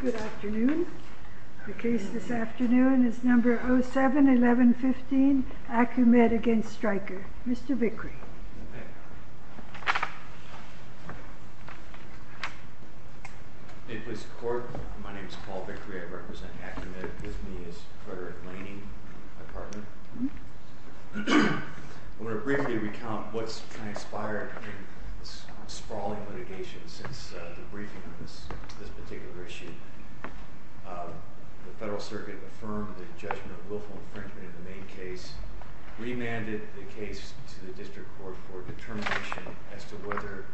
Good afternoon. The case this afternoon is No. 07-1115, Acumed v. Stryker. Mr. Vickery. May it please the Court. My name is Paul Vickery. I represent Acumed. With me is Frederick Laney, my partner. I want to briefly recount what's transpired in sprawling litigation since the briefing of this particular issue. The Federal Circuit affirmed the judgment of willful infringement in the main case, remanded the case to the District Court for determination as to whether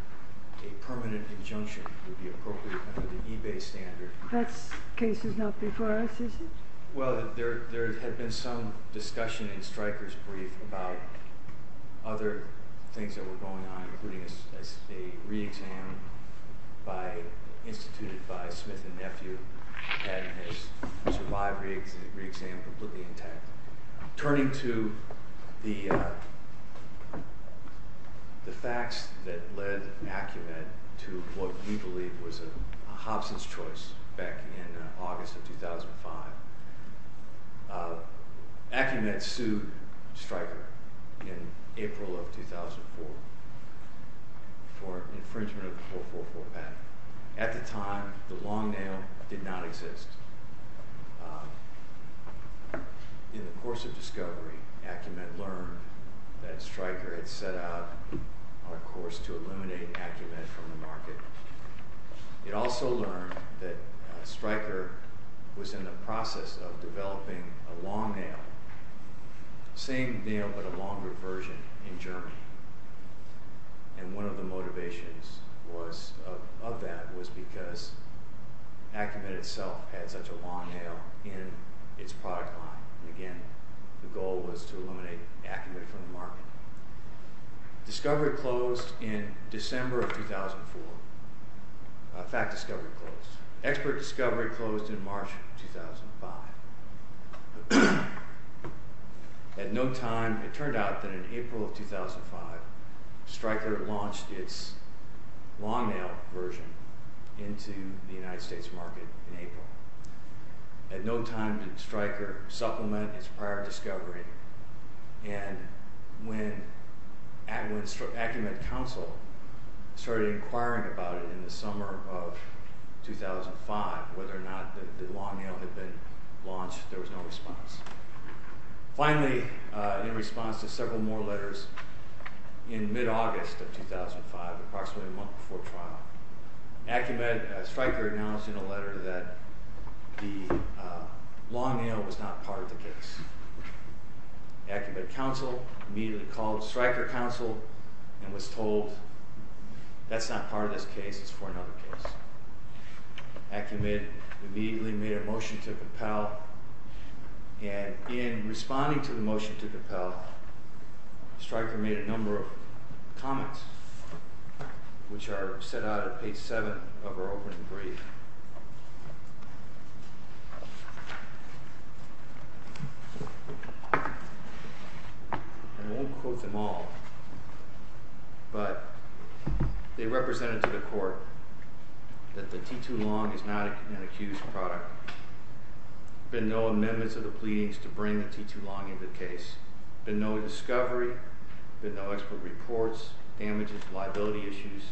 a permanent injunction would be appropriate under the eBay standard. That case is not before us, is it? Well, there had been some discussion in Stryker's brief about other things that were going on, including a re-exam instituted by Smith and Nephew, and his survived re-exam completely intact. Turning to the facts that led Acumed to what we believe was a Hobson's choice back in August of 2005, Acumed sued Stryker in April of 2004 for infringement of the 444 patent. At the time, the long nail did not exist. In the course of discovery, Acumed learned that Stryker had set out on a course to eliminate Acumed from the market. It also learned that Stryker was in the process of developing a long nail, same nail but a longer version, in Germany. And one of the motivations of that was because Acumed itself had such a long nail in its product line. Again, the goal was to eliminate Acumed from the market. Discovery closed in December of 2004. Fact discovery closed. Expert discovery closed in March of 2005. At no time, it turned out that in April of 2005, Stryker launched its long nail version into the United States market in April. At no time did Stryker supplement its prior discovery, and when Acumed Council started inquiring about it in the summer of 2005, whether or not the long nail had been launched, there was no response. Finally, in response to several more letters, in mid-August of 2005, approximately a month before trial, Acumed and Stryker announced in a letter that the long nail was not part of the case. Acumed Council immediately called Stryker Council and was told, that's not part of this case, it's for another case. Acumed immediately made a motion to compel, and in responding to the motion to compel, Stryker made a number of comments, which are set out on page 7 of our opening brief. I won't quote them all, but they represented to the court that the T2 long is not an accused product. There have been no amendments to the pleadings to bring the T2 long into the case. There have been no discovery, there have been no expert reports, damages, liability issues,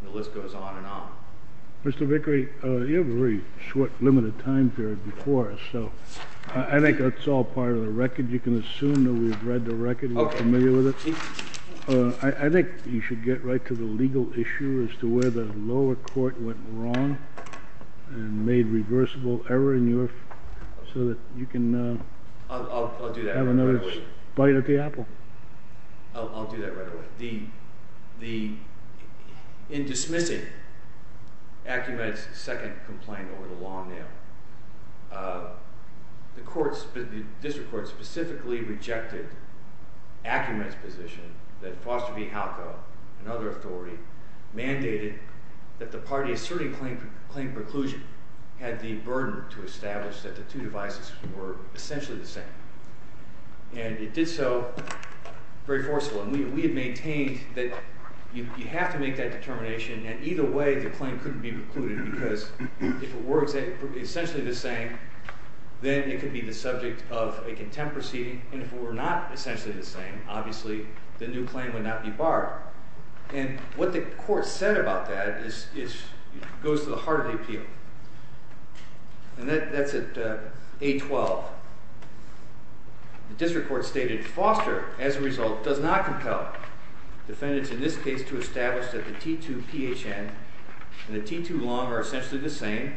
and the list goes on and on. Mr. Vickery, you have a very short, limited time period before us, so I think that's all part of the record. You can assume that we've read the record and we're familiar with it. I think you should get right to the legal issue as to where the lower court went wrong and made reversible error in your, so that you can have another bite at the apple. I'll do that right away. In dismissing Acumed's second complaint over the long nail, the district court specifically rejected Acumed's position that Foster v. Halco and other authority mandated that the party asserting claim preclusion had the burden to establish that the two devices were essentially the same. And it did so very forcefully. We had maintained that you have to make that determination, and either way the claim couldn't be precluded, because if it were essentially the same, then it could be the subject of a contempt proceeding, and if it were not essentially the same, obviously the new claim would not be barred. And what the court said about that goes to the heart of the appeal, and that's at A12. The district court stated, Foster, as a result, does not compel defendants in this case to establish that the T2PHN and the T2 long are essentially the same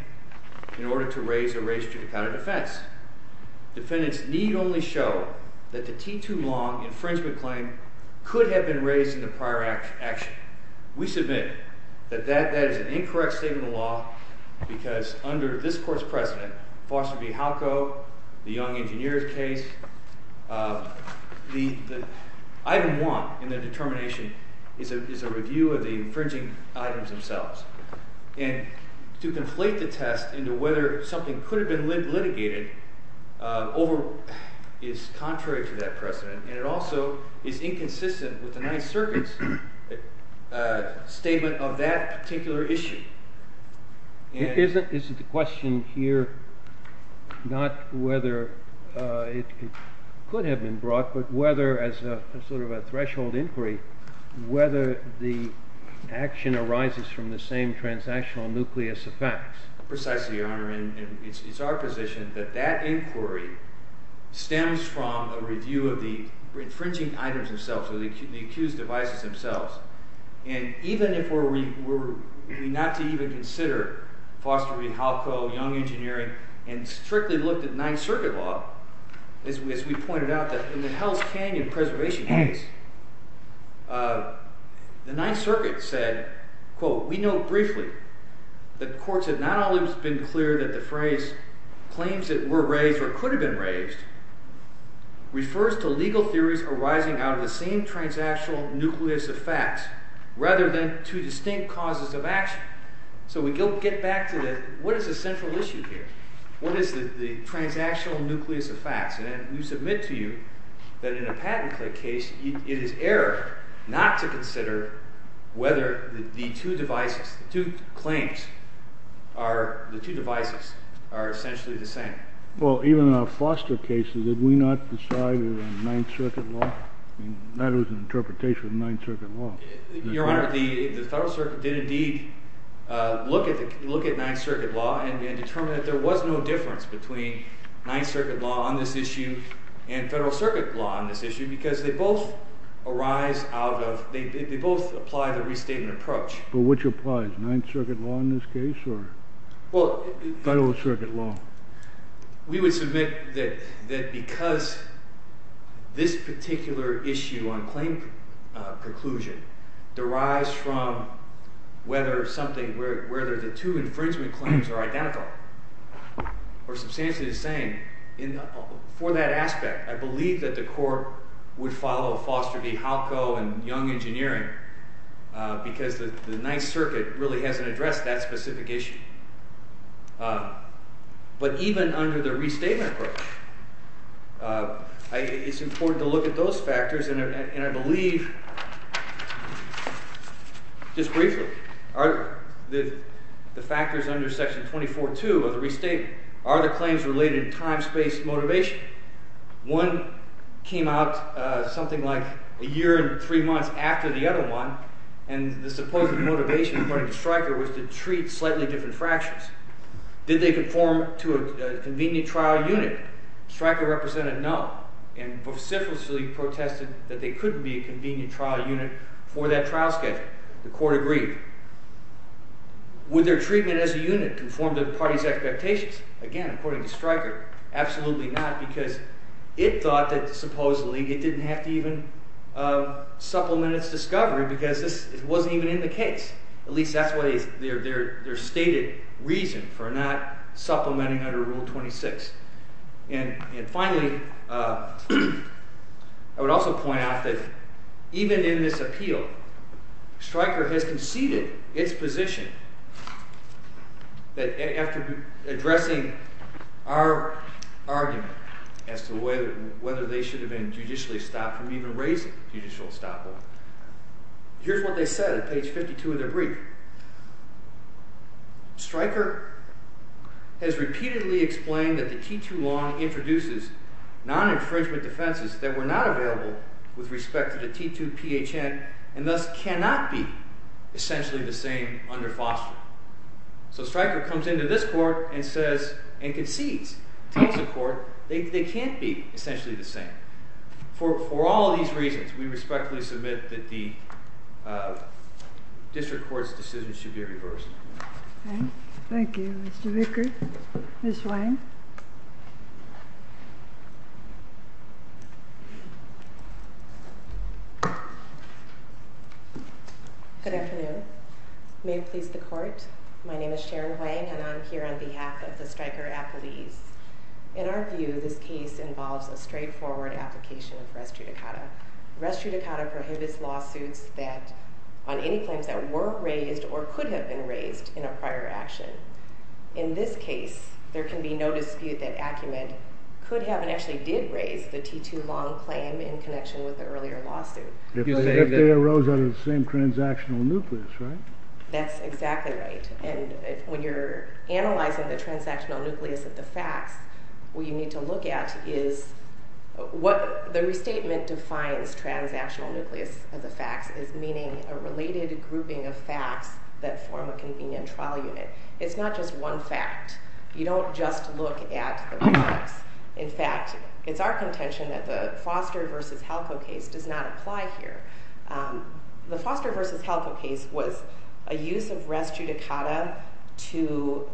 in order to raise a race to the count of defense. Defendants need only show that the T2 long infringement claim could have been raised in the prior action. We submit that that is an incorrect statement of the law, because under this court's precedent, Foster v. Halco, the young engineer's case, the item one in the determination is a review of the infringing items themselves. And to conflate the test into whether something could have been litigated is contrary to that precedent, and it also is inconsistent with the Ninth Circuit's statement of that particular issue. Is it the question here not whether it could have been brought, but whether, as sort of a threshold inquiry, whether the action arises from the same transactional nucleus of facts? Precisely, Your Honor, and it's our position that that inquiry stems from a review of the infringing items themselves, or the accused devices themselves. And even if we were not to even consider Foster v. Halco, young engineering, and strictly looked at Ninth Circuit law, as we pointed out, in the Hell's Canyon preservation case, the Ninth Circuit said, quote, we know briefly that courts have not always been clear that the phrase claims that were raised or could have been raised refers to legal theories arising out of the same transactional nucleus of facts, rather than two distinct causes of action. So we don't get back to the, what is the central issue here? What is the transactional nucleus of facts? And we submit to you that in a patent case, it is error not to consider whether the two devices, the two claims, the two devices are essentially the same. Well, even in our Foster cases, did we not decide it was Ninth Circuit law? That was an interpretation of Ninth Circuit law. Your Honor, the Federal Circuit did indeed look at Ninth Circuit law and determined that there was no difference between Ninth Circuit law on this issue and Federal Circuit law on this issue, because they both arise out of, they both apply the restatement approach. But which applies? Ninth Circuit law in this case, or Federal Circuit law? We would submit that because this particular issue on claim conclusion derives from whether something, whether the two infringement claims are identical or substantially the same, for that aspect, I believe that the court would follow Foster v. Halco and Young Engineering because the Ninth Circuit really hasn't addressed that specific issue. But even under the restatement approach, it's important to look at those factors, and I believe, just briefly, the factors under Section 24-2 of the restatement are the claims related to time-space motivation. One came out something like a year and three months after the other one, and the supposed motivation, according to Stryker, was to treat slightly different fractions. Did they conform to a convenient trial unit? Stryker represented no and vociferously protested that they couldn't be a convenient trial unit for that trial schedule. The court agreed. Would their treatment as a unit conform to the party's expectations? Again, according to Stryker, absolutely not, because it thought that supposedly it didn't have to even supplement its discovery because this wasn't even in the case. At least that's what their stated reason for not supplementing under Rule 26. And finally, I would also point out that even in this appeal, Stryker has conceded its position that, after addressing our argument as to whether they should have been judicially stopped or even raised a judicial stop order, here's what they said at page 52 of their brief. Stryker has repeatedly explained that the T2 law introduces non-infringement defenses that were not available with respect to the T2PHN and thus cannot be essentially the same under fostering. So Stryker comes into this court and says, and concedes, tells the court they can't be essentially the same. For all of these reasons, we respectfully submit that the district court's decision should be reversed. Thank you, Mr. Vickers. Ms. Wayne? Good afternoon. May it please the court, my name is Sharon Wayne and I'm here on behalf of the Stryker appellees. In our view, this case involves a straightforward application of res judicata. Res judicata prohibits lawsuits on any claims that were raised or could have been raised in a prior action. In this case, there can be no dispute that Acumen could have and actually did raise the T2 long claim in connection with the earlier lawsuit. If they arose out of the same transactional nucleus, right? That's exactly right. And when you're analyzing the transactional nucleus of the facts, what you need to look at is what the restatement defines transactional nucleus of the facts is meaning a related grouping of facts that form a convenient trial unit. It's not just one fact. You don't just look at the facts. In fact, it's our contention that the Foster versus Helco case does not apply here. The Foster versus Helco case was a use of res judicata to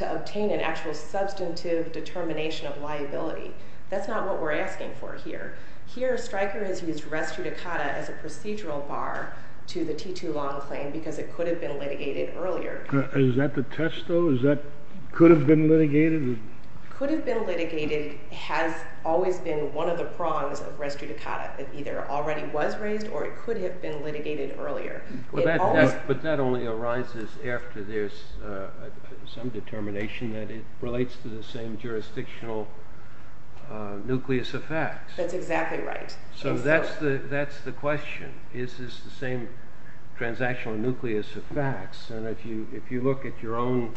obtain an actual substantive determination of liability. That's not what we're asking for here. Here, Stryker has used res judicata as a procedural bar to the T2 long claim because it could have been litigated earlier. Is that the test though? Is that could have been litigated? Could have been litigated has always been one of the prongs of res judicata. It either already was raised or it could have been litigated earlier. But that only arises after there's some determination that it relates to the same jurisdictional nucleus of facts. That's exactly right. So that's the question. Is this the same transactional nucleus of facts? And if you look at your own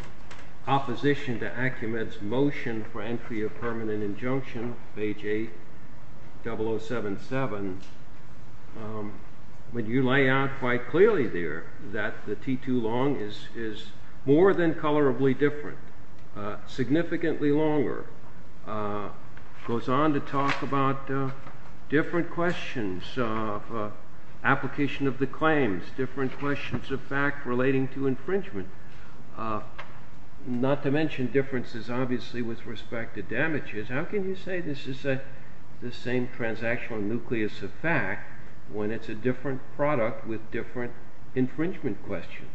opposition to Acumen's motion for entry of permanent injunction, page 8, 0077, when you lay out quite clearly there that the T2 long is more than colorably different, significantly longer. Stryker goes on to talk about different questions of application of the claims, different questions of fact relating to infringement, not to mention differences obviously with respect to damages. How can you say this is the same transactional nucleus of fact when it's a different product with different infringement questions?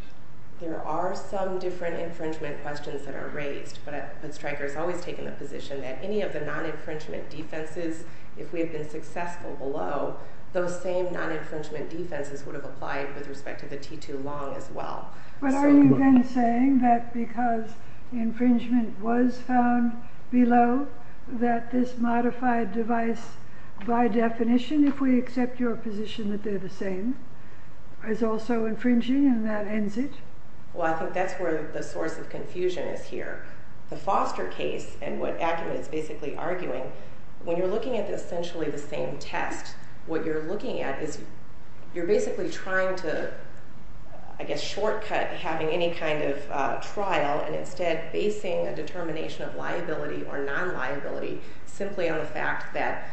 There are some different infringement questions that are raised, but Stryker has always taken the position that any of the non-infringement defenses, if we have been successful below, those same non-infringement defenses would have applied with respect to the T2 long as well. But are you then saying that because infringement was found below, that this modified device by definition, if we accept your position that they're the same, is also infringing and that ends it? Well, I think that's where the source of confusion is here. The Foster case and what Acumen is basically arguing, when you're looking at essentially the same test, what you're looking at is you're basically trying to, I guess, shortcut having any kind of trial and instead basing a determination of liability or non-liability simply on the fact that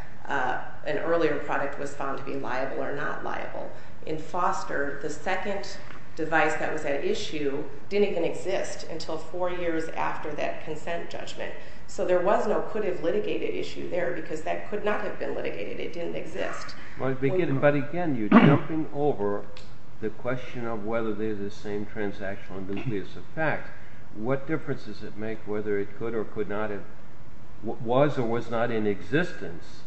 an earlier product was found to be liable or not liable. In Foster, the second device that was at issue didn't even exist until four years after that consent judgment. So there was no could have litigated issue there because that could not have been litigated. It didn't exist. But again, you're jumping over the question of whether they're the same transactional nucleus of fact. What difference does it make whether it could or could not have, was or was not in existence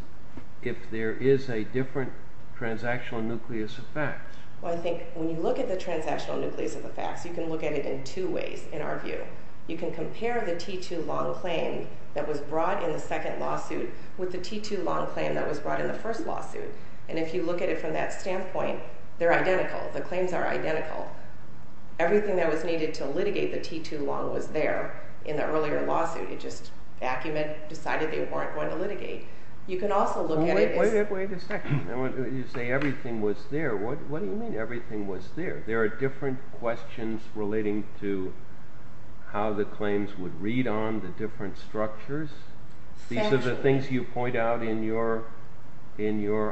if there is a different transactional nucleus of fact? Well, I think when you look at the transactional nucleus of the facts, you can look at it in two ways in our view. You can compare the T2 Long claim that was brought in the second lawsuit with the T2 Long claim that was brought in the first lawsuit. And if you look at it from that standpoint, they're identical. The claims are identical. Everything that was needed to litigate the T2 Long was there in the earlier lawsuit. It just, Acumen decided they weren't going to litigate. You can also look at it as… Wait a second. You say everything was there. What do you mean everything was there? There are different questions relating to how the claims would read on the different structures. These are the things you point out in your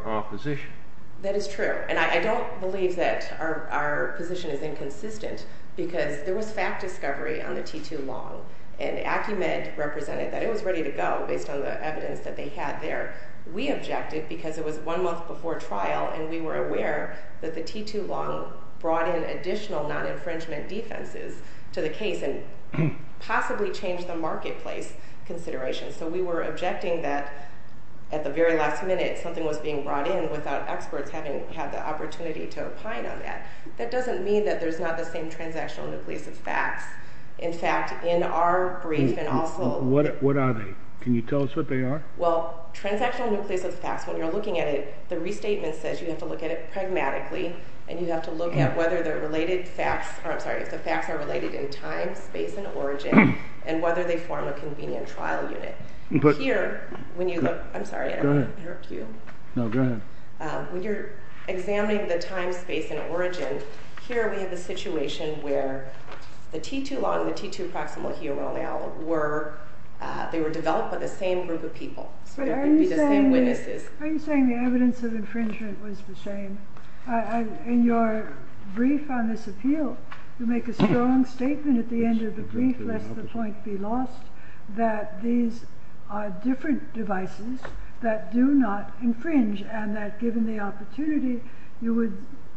opposition. That is true. And I don't believe that our position is inconsistent because there was fact discovery on the T2 Long and Acumen represented that it was ready to go based on the evidence that they had there. We objected because it was one month before trial and we were aware that the T2 Long brought in additional non-infringement defenses to the case and possibly changed the marketplace considerations. So we were objecting that at the very last minute something was being brought in without experts having had the opportunity to opine on that. That doesn't mean that there's not the same transactional nucleus of facts. In fact, in our brief and also… What are they? Can you tell us what they are? Well, transactional nucleus of facts, when you're looking at it, the restatement says you have to look at it pragmatically and you have to look at whether the related facts… I'm sorry, if the facts are related in time, space, and origin, and whether they form a convenient trial unit. When you're examining the time, space, and origin, here we have a situation where the T2 Long and the T2 proximal here were developed by the same group of people. Are you saying the evidence of infringement was the same? In your brief on this appeal, you make a strong statement at the end of the brief, lest the point be lost, that these are different devices that do not infringe and that given the opportunity, you would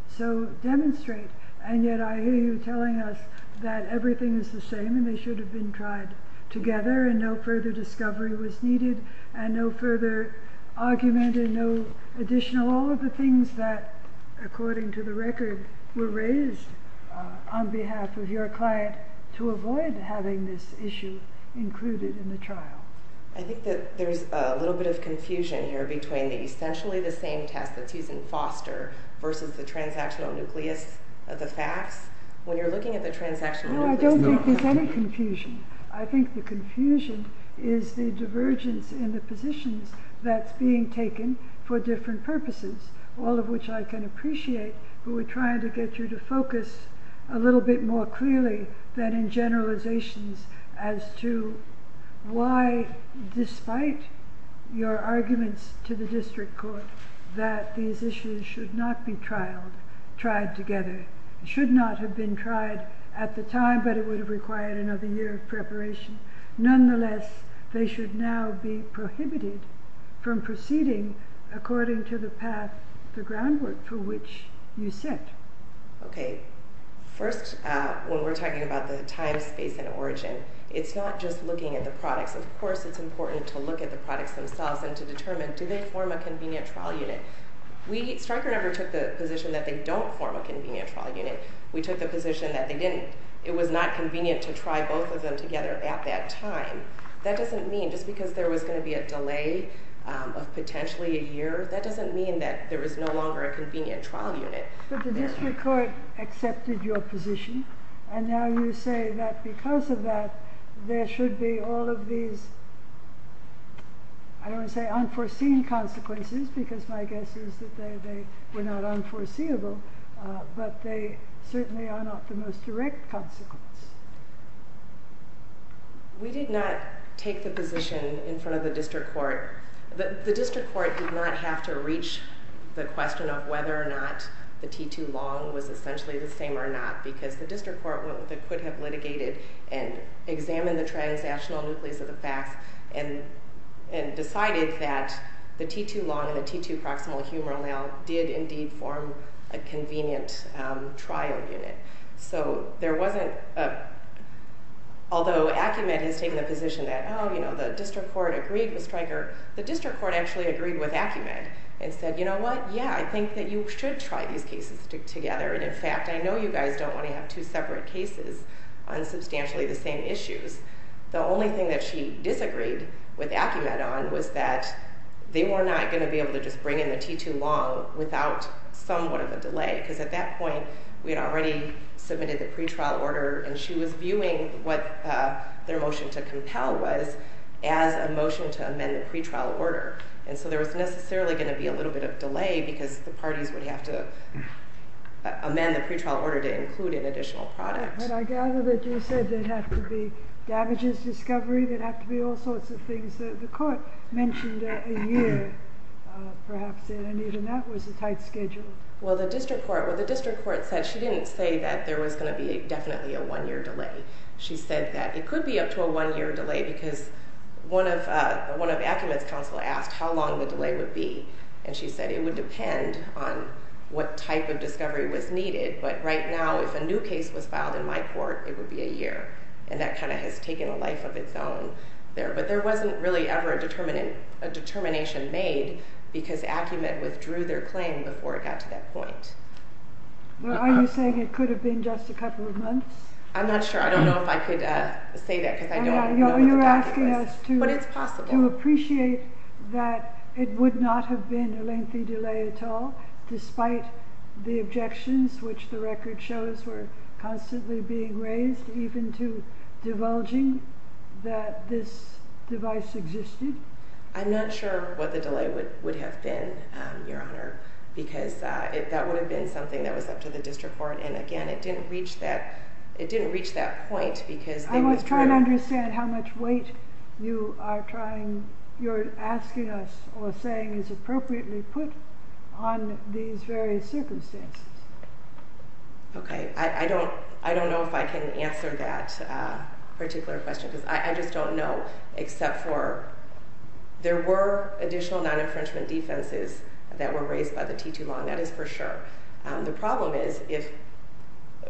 so demonstrate. And yet I hear you telling us that everything is the same and they should have been tried together and no further discovery was needed and no further argument and no additional… all of the things that, according to the record, were raised on behalf of your client to avoid having this issue included in the trial. I think that there's a little bit of confusion here between essentially the same test that's used in Foster versus the transactional nucleus of the facts. When you're looking at the transactional… No, I don't think there's any confusion. I think the confusion is the divergence in the positions that's being taken for different purposes, all of which I can appreciate, but we're trying to get you to focus a little bit more clearly than in generalizations as to why, despite your arguments to the district court that these issues should not be trialed, tried together, should not have been tried at the time, but it would have required another year of preparation. Nonetheless, they should now be prohibited from proceeding according to the path, the groundwork for which you set. Okay. First, when we're talking about the time, space, and origin, it's not just looking at the products. Of course, it's important to look at the products themselves and to determine, do they form a convenient trial unit? Striker never took the position that they don't form a convenient trial unit. We took the position that they didn't. It was not convenient to try both of them together at that time. That doesn't mean, just because there was going to be a delay of potentially a year, that doesn't mean that there is no longer a convenient trial unit. But the district court accepted your position, and now you say that because of that, there should be all of these, I don't want to say unforeseen consequences, because my guess is that they were not unforeseeable, but they certainly are not the most direct consequence. We did not take the position in front of the district court. The district court did not have to reach the question of whether or not the T2 long was essentially the same or not, because the district court could have litigated and examined the transactional nucleus of the facts and decided that the T2 long and the T2 proximal humeral now did indeed form a convenient trial unit. So there wasn't, although Acumed has taken the position that the district court agreed with Striker, the district court actually agreed with Acumed and said, you know what, yeah, I think that you should try these cases together, and in fact, I know you guys don't want to have two separate cases on substantially the same issues. The only thing that she disagreed with Acumed on was that they were not going to be able to just bring in the T2 long without somewhat of a delay, because at that point, we had already submitted the pretrial order, and she was viewing what their motion to compel was as a motion to amend the pretrial order. And so there was necessarily going to be a little bit of delay because the parties would have to amend the pretrial order to include an additional product. But I gather that you said there'd have to be damages discovery, there'd have to be all sorts of things that the court mentioned a year, perhaps, and even that was a tight schedule. Well, the district court said she didn't say that there was going to be definitely a one-year delay. She said that it could be up to a one-year delay because one of Acumed's counsel asked how long the delay would be, and she said it would depend on what type of discovery was needed, but right now, if a new case was filed in my court, it would be a year. And that kind of has taken a life of its own there. But there wasn't really ever a determination made because Acumed withdrew their claim before it got to that point. Well, are you saying it could have been just a couple of months? I'm not sure. I don't know if I could say that because I don't know the documents. But it's possible. I'm not sure what the delay would have been, Your Honor, because that would have been something that was up to the district court, and again, it didn't reach that point because they withdrew. You're asking us or saying it's appropriately put on these various circumstances. Okay. I don't know if I can answer that particular question because I just don't know, except for there were additional non-infringement defenses that were raised by the T2 law, and that is for sure. The problem is if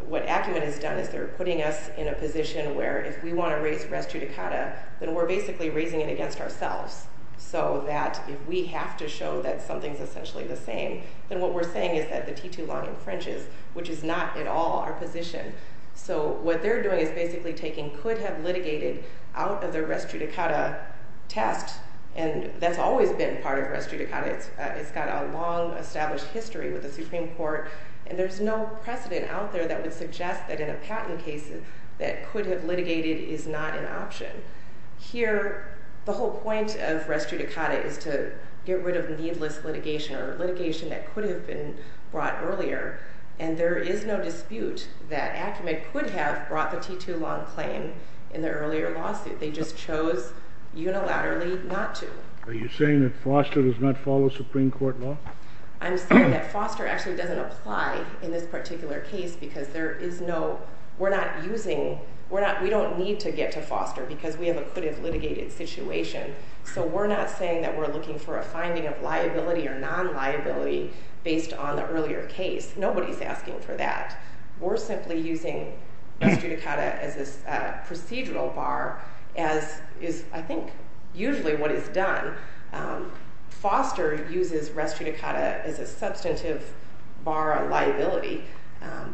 what Acumed has done is they're putting us in a position where if we want to raise res judicata, then we're basically raising it against ourselves. So that if we have to show that something's essentially the same, then what we're saying is that the T2 law infringes, which is not at all our position. So what they're doing is basically taking could have litigated out of their res judicata test, and that's always been part of res judicata. It's got a long established history with the Supreme Court, and there's no precedent out there that would suggest that in a patent case that could have litigated is not an option. Here, the whole point of res judicata is to get rid of needless litigation or litigation that could have been brought earlier, and there is no dispute that Acumed could have brought the T2 long claim in the earlier lawsuit. They just chose unilaterally not to. Are you saying that Foster does not follow Supreme Court law? I'm saying that Foster actually doesn't apply in this particular case because we don't need to get to Foster because we have a could have litigated situation. So we're not saying that we're looking for a finding of liability or non-liability based on the earlier case. Nobody's asking for that. We're simply using res judicata as a procedural bar as is, I think, usually what is done. Foster uses res judicata as a substantive bar of liability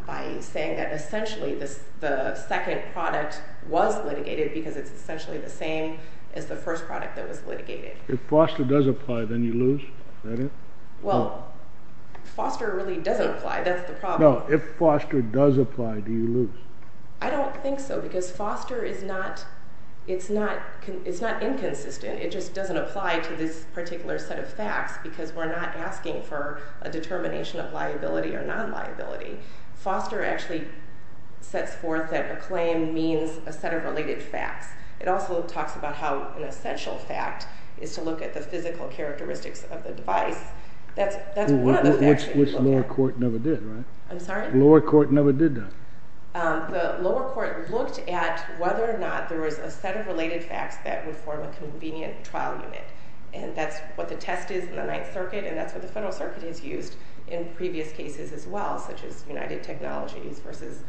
by saying that essentially the second product was litigated because it's essentially the same as the first product that was litigated. If Foster does apply, then you lose? Well, Foster really doesn't apply. That's the problem. If Foster does apply, do you lose? I don't think so because Foster is not inconsistent. It just doesn't apply to this particular set of facts because we're not asking for a determination of liability or non-liability. Foster actually sets forth that a claim means a set of related facts. It also talks about how an essential fact is to look at the physical characteristics of the device. That's one of the factors. Which the lower court never did, right? I'm sorry? The lower court never did that. The lower court looked at whether or not there was a set of related facts that would form a convenient trial unit. That's what the test is in the Ninth Circuit, and that's what the federal circuit has used in previous cases as well, such as United Technologies versus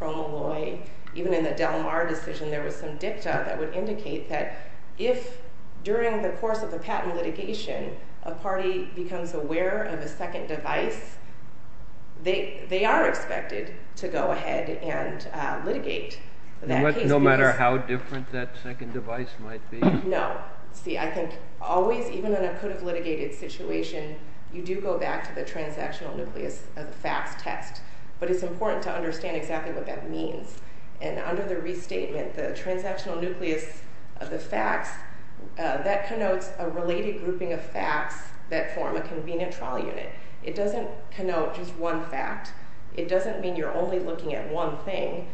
Cromalloy. Even in the Del Mar decision, there was some dicta that would indicate that if, during the course of the patent litigation, a party becomes aware of a second device, they are expected to go ahead and litigate that case. No matter how different that second device might be? No. See, I think always, even in a could-have-litigated situation, you do go back to the transactional nucleus of the facts test. But it's important to understand exactly what that means. And under the restatement, the transactional nucleus of the facts, that connotes a related grouping of facts that form a convenient trial unit. It doesn't connote just one fact. It doesn't mean you're only looking at one thing,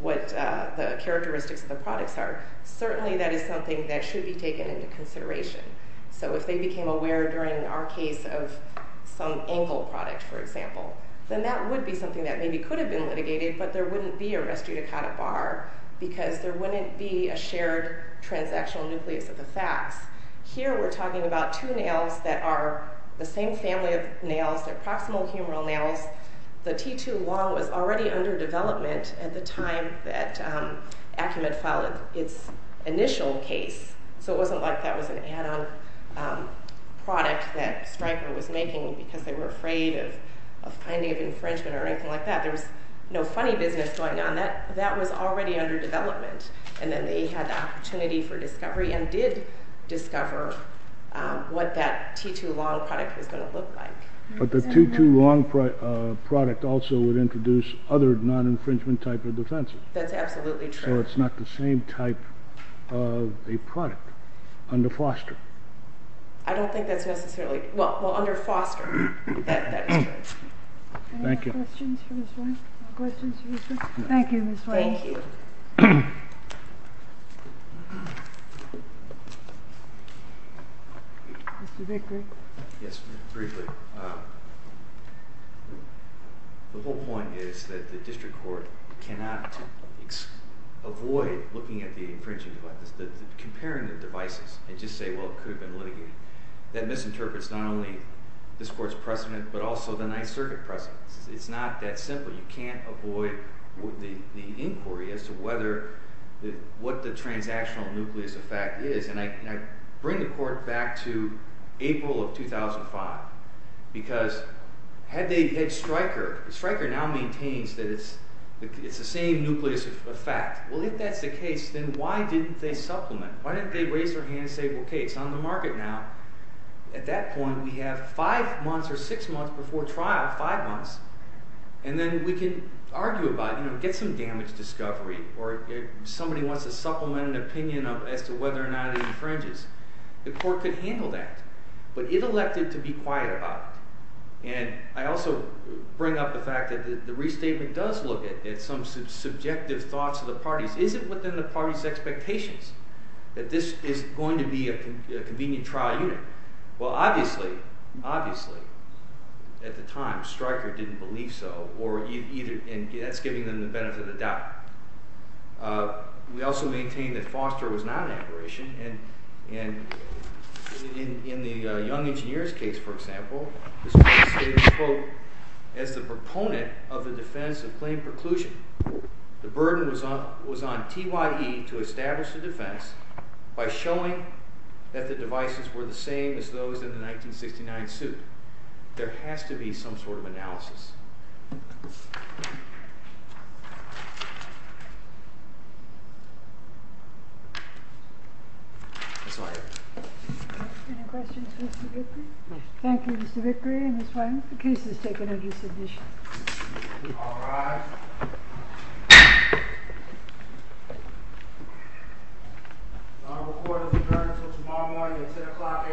what the characteristics of the products are. Certainly, that is something that should be taken into consideration. So if they became aware during our case of some Engel product, for example, then that would be something that maybe could have been litigated, but there wouldn't be a restitutacata bar, because there wouldn't be a shared transactional nucleus of the facts. Here, we're talking about two nails that are the same family of nails, they're proximal humeral nails. The T2 long was already under development at the time that Acumen filed its initial case, so it wasn't like that was an add-on product that Stryker was making because they were afraid of finding infringement or anything like that. There was no funny business going on. That was already under development, and then they had the opportunity for discovery and did discover what that T2 long product was going to look like. But the T2 long product also would introduce other non-infringement type of defenses. That's absolutely true. So it's not the same type of a product under Foster. I don't think that's necessarily—well, under Foster, that is correct. Thank you. Any questions for Ms. White? No. Thank you, Ms. White. Thank you. Mr. Vickery? Yes, briefly. The whole point is that the district court cannot avoid looking at the infringing devices, comparing the devices, and just say, well, it could have been litigated. That misinterprets not only this court's precedent but also the Ninth Circuit precedent. It's not that simple. You can't avoid the inquiry as to whether—what the transactional nucleus effect is. And I bring the court back to April of 2005 because had they had Stryker—Stryker now maintains that it's the same nucleus effect. Well, if that's the case, then why didn't they supplement? Why didn't they raise their hand and say, well, okay, it's on the market now. At that point, we have five months or six months before trial, five months. And then we can argue about, you know, get some damage discovery or somebody wants to supplement an opinion as to whether or not it infringes. The court could handle that. But it elected to be quiet about it. And I also bring up the fact that the restatement does look at some subjective thoughts of the parties. Is it within the party's expectations that this is going to be a convenient trial unit? Well, obviously, obviously, at the time, Stryker didn't believe so, and that's giving them the benefit of the doubt. We also maintain that Foster was not an aberration. And in the Young Engineers case, for example, this court stated, quote, as the proponent of the defense of claim preclusion, the burden was on TYE to establish a defense by showing that the devices were the same as those in the 1969 suit. There has to be some sort of analysis. That's all I have. Any questions for Mr. Vickrey? Thank you, Mr. Vickrey and Ms. White. The case is taken under submission. All rise. The court is adjourned until tomorrow morning at 10 o'clock a.m.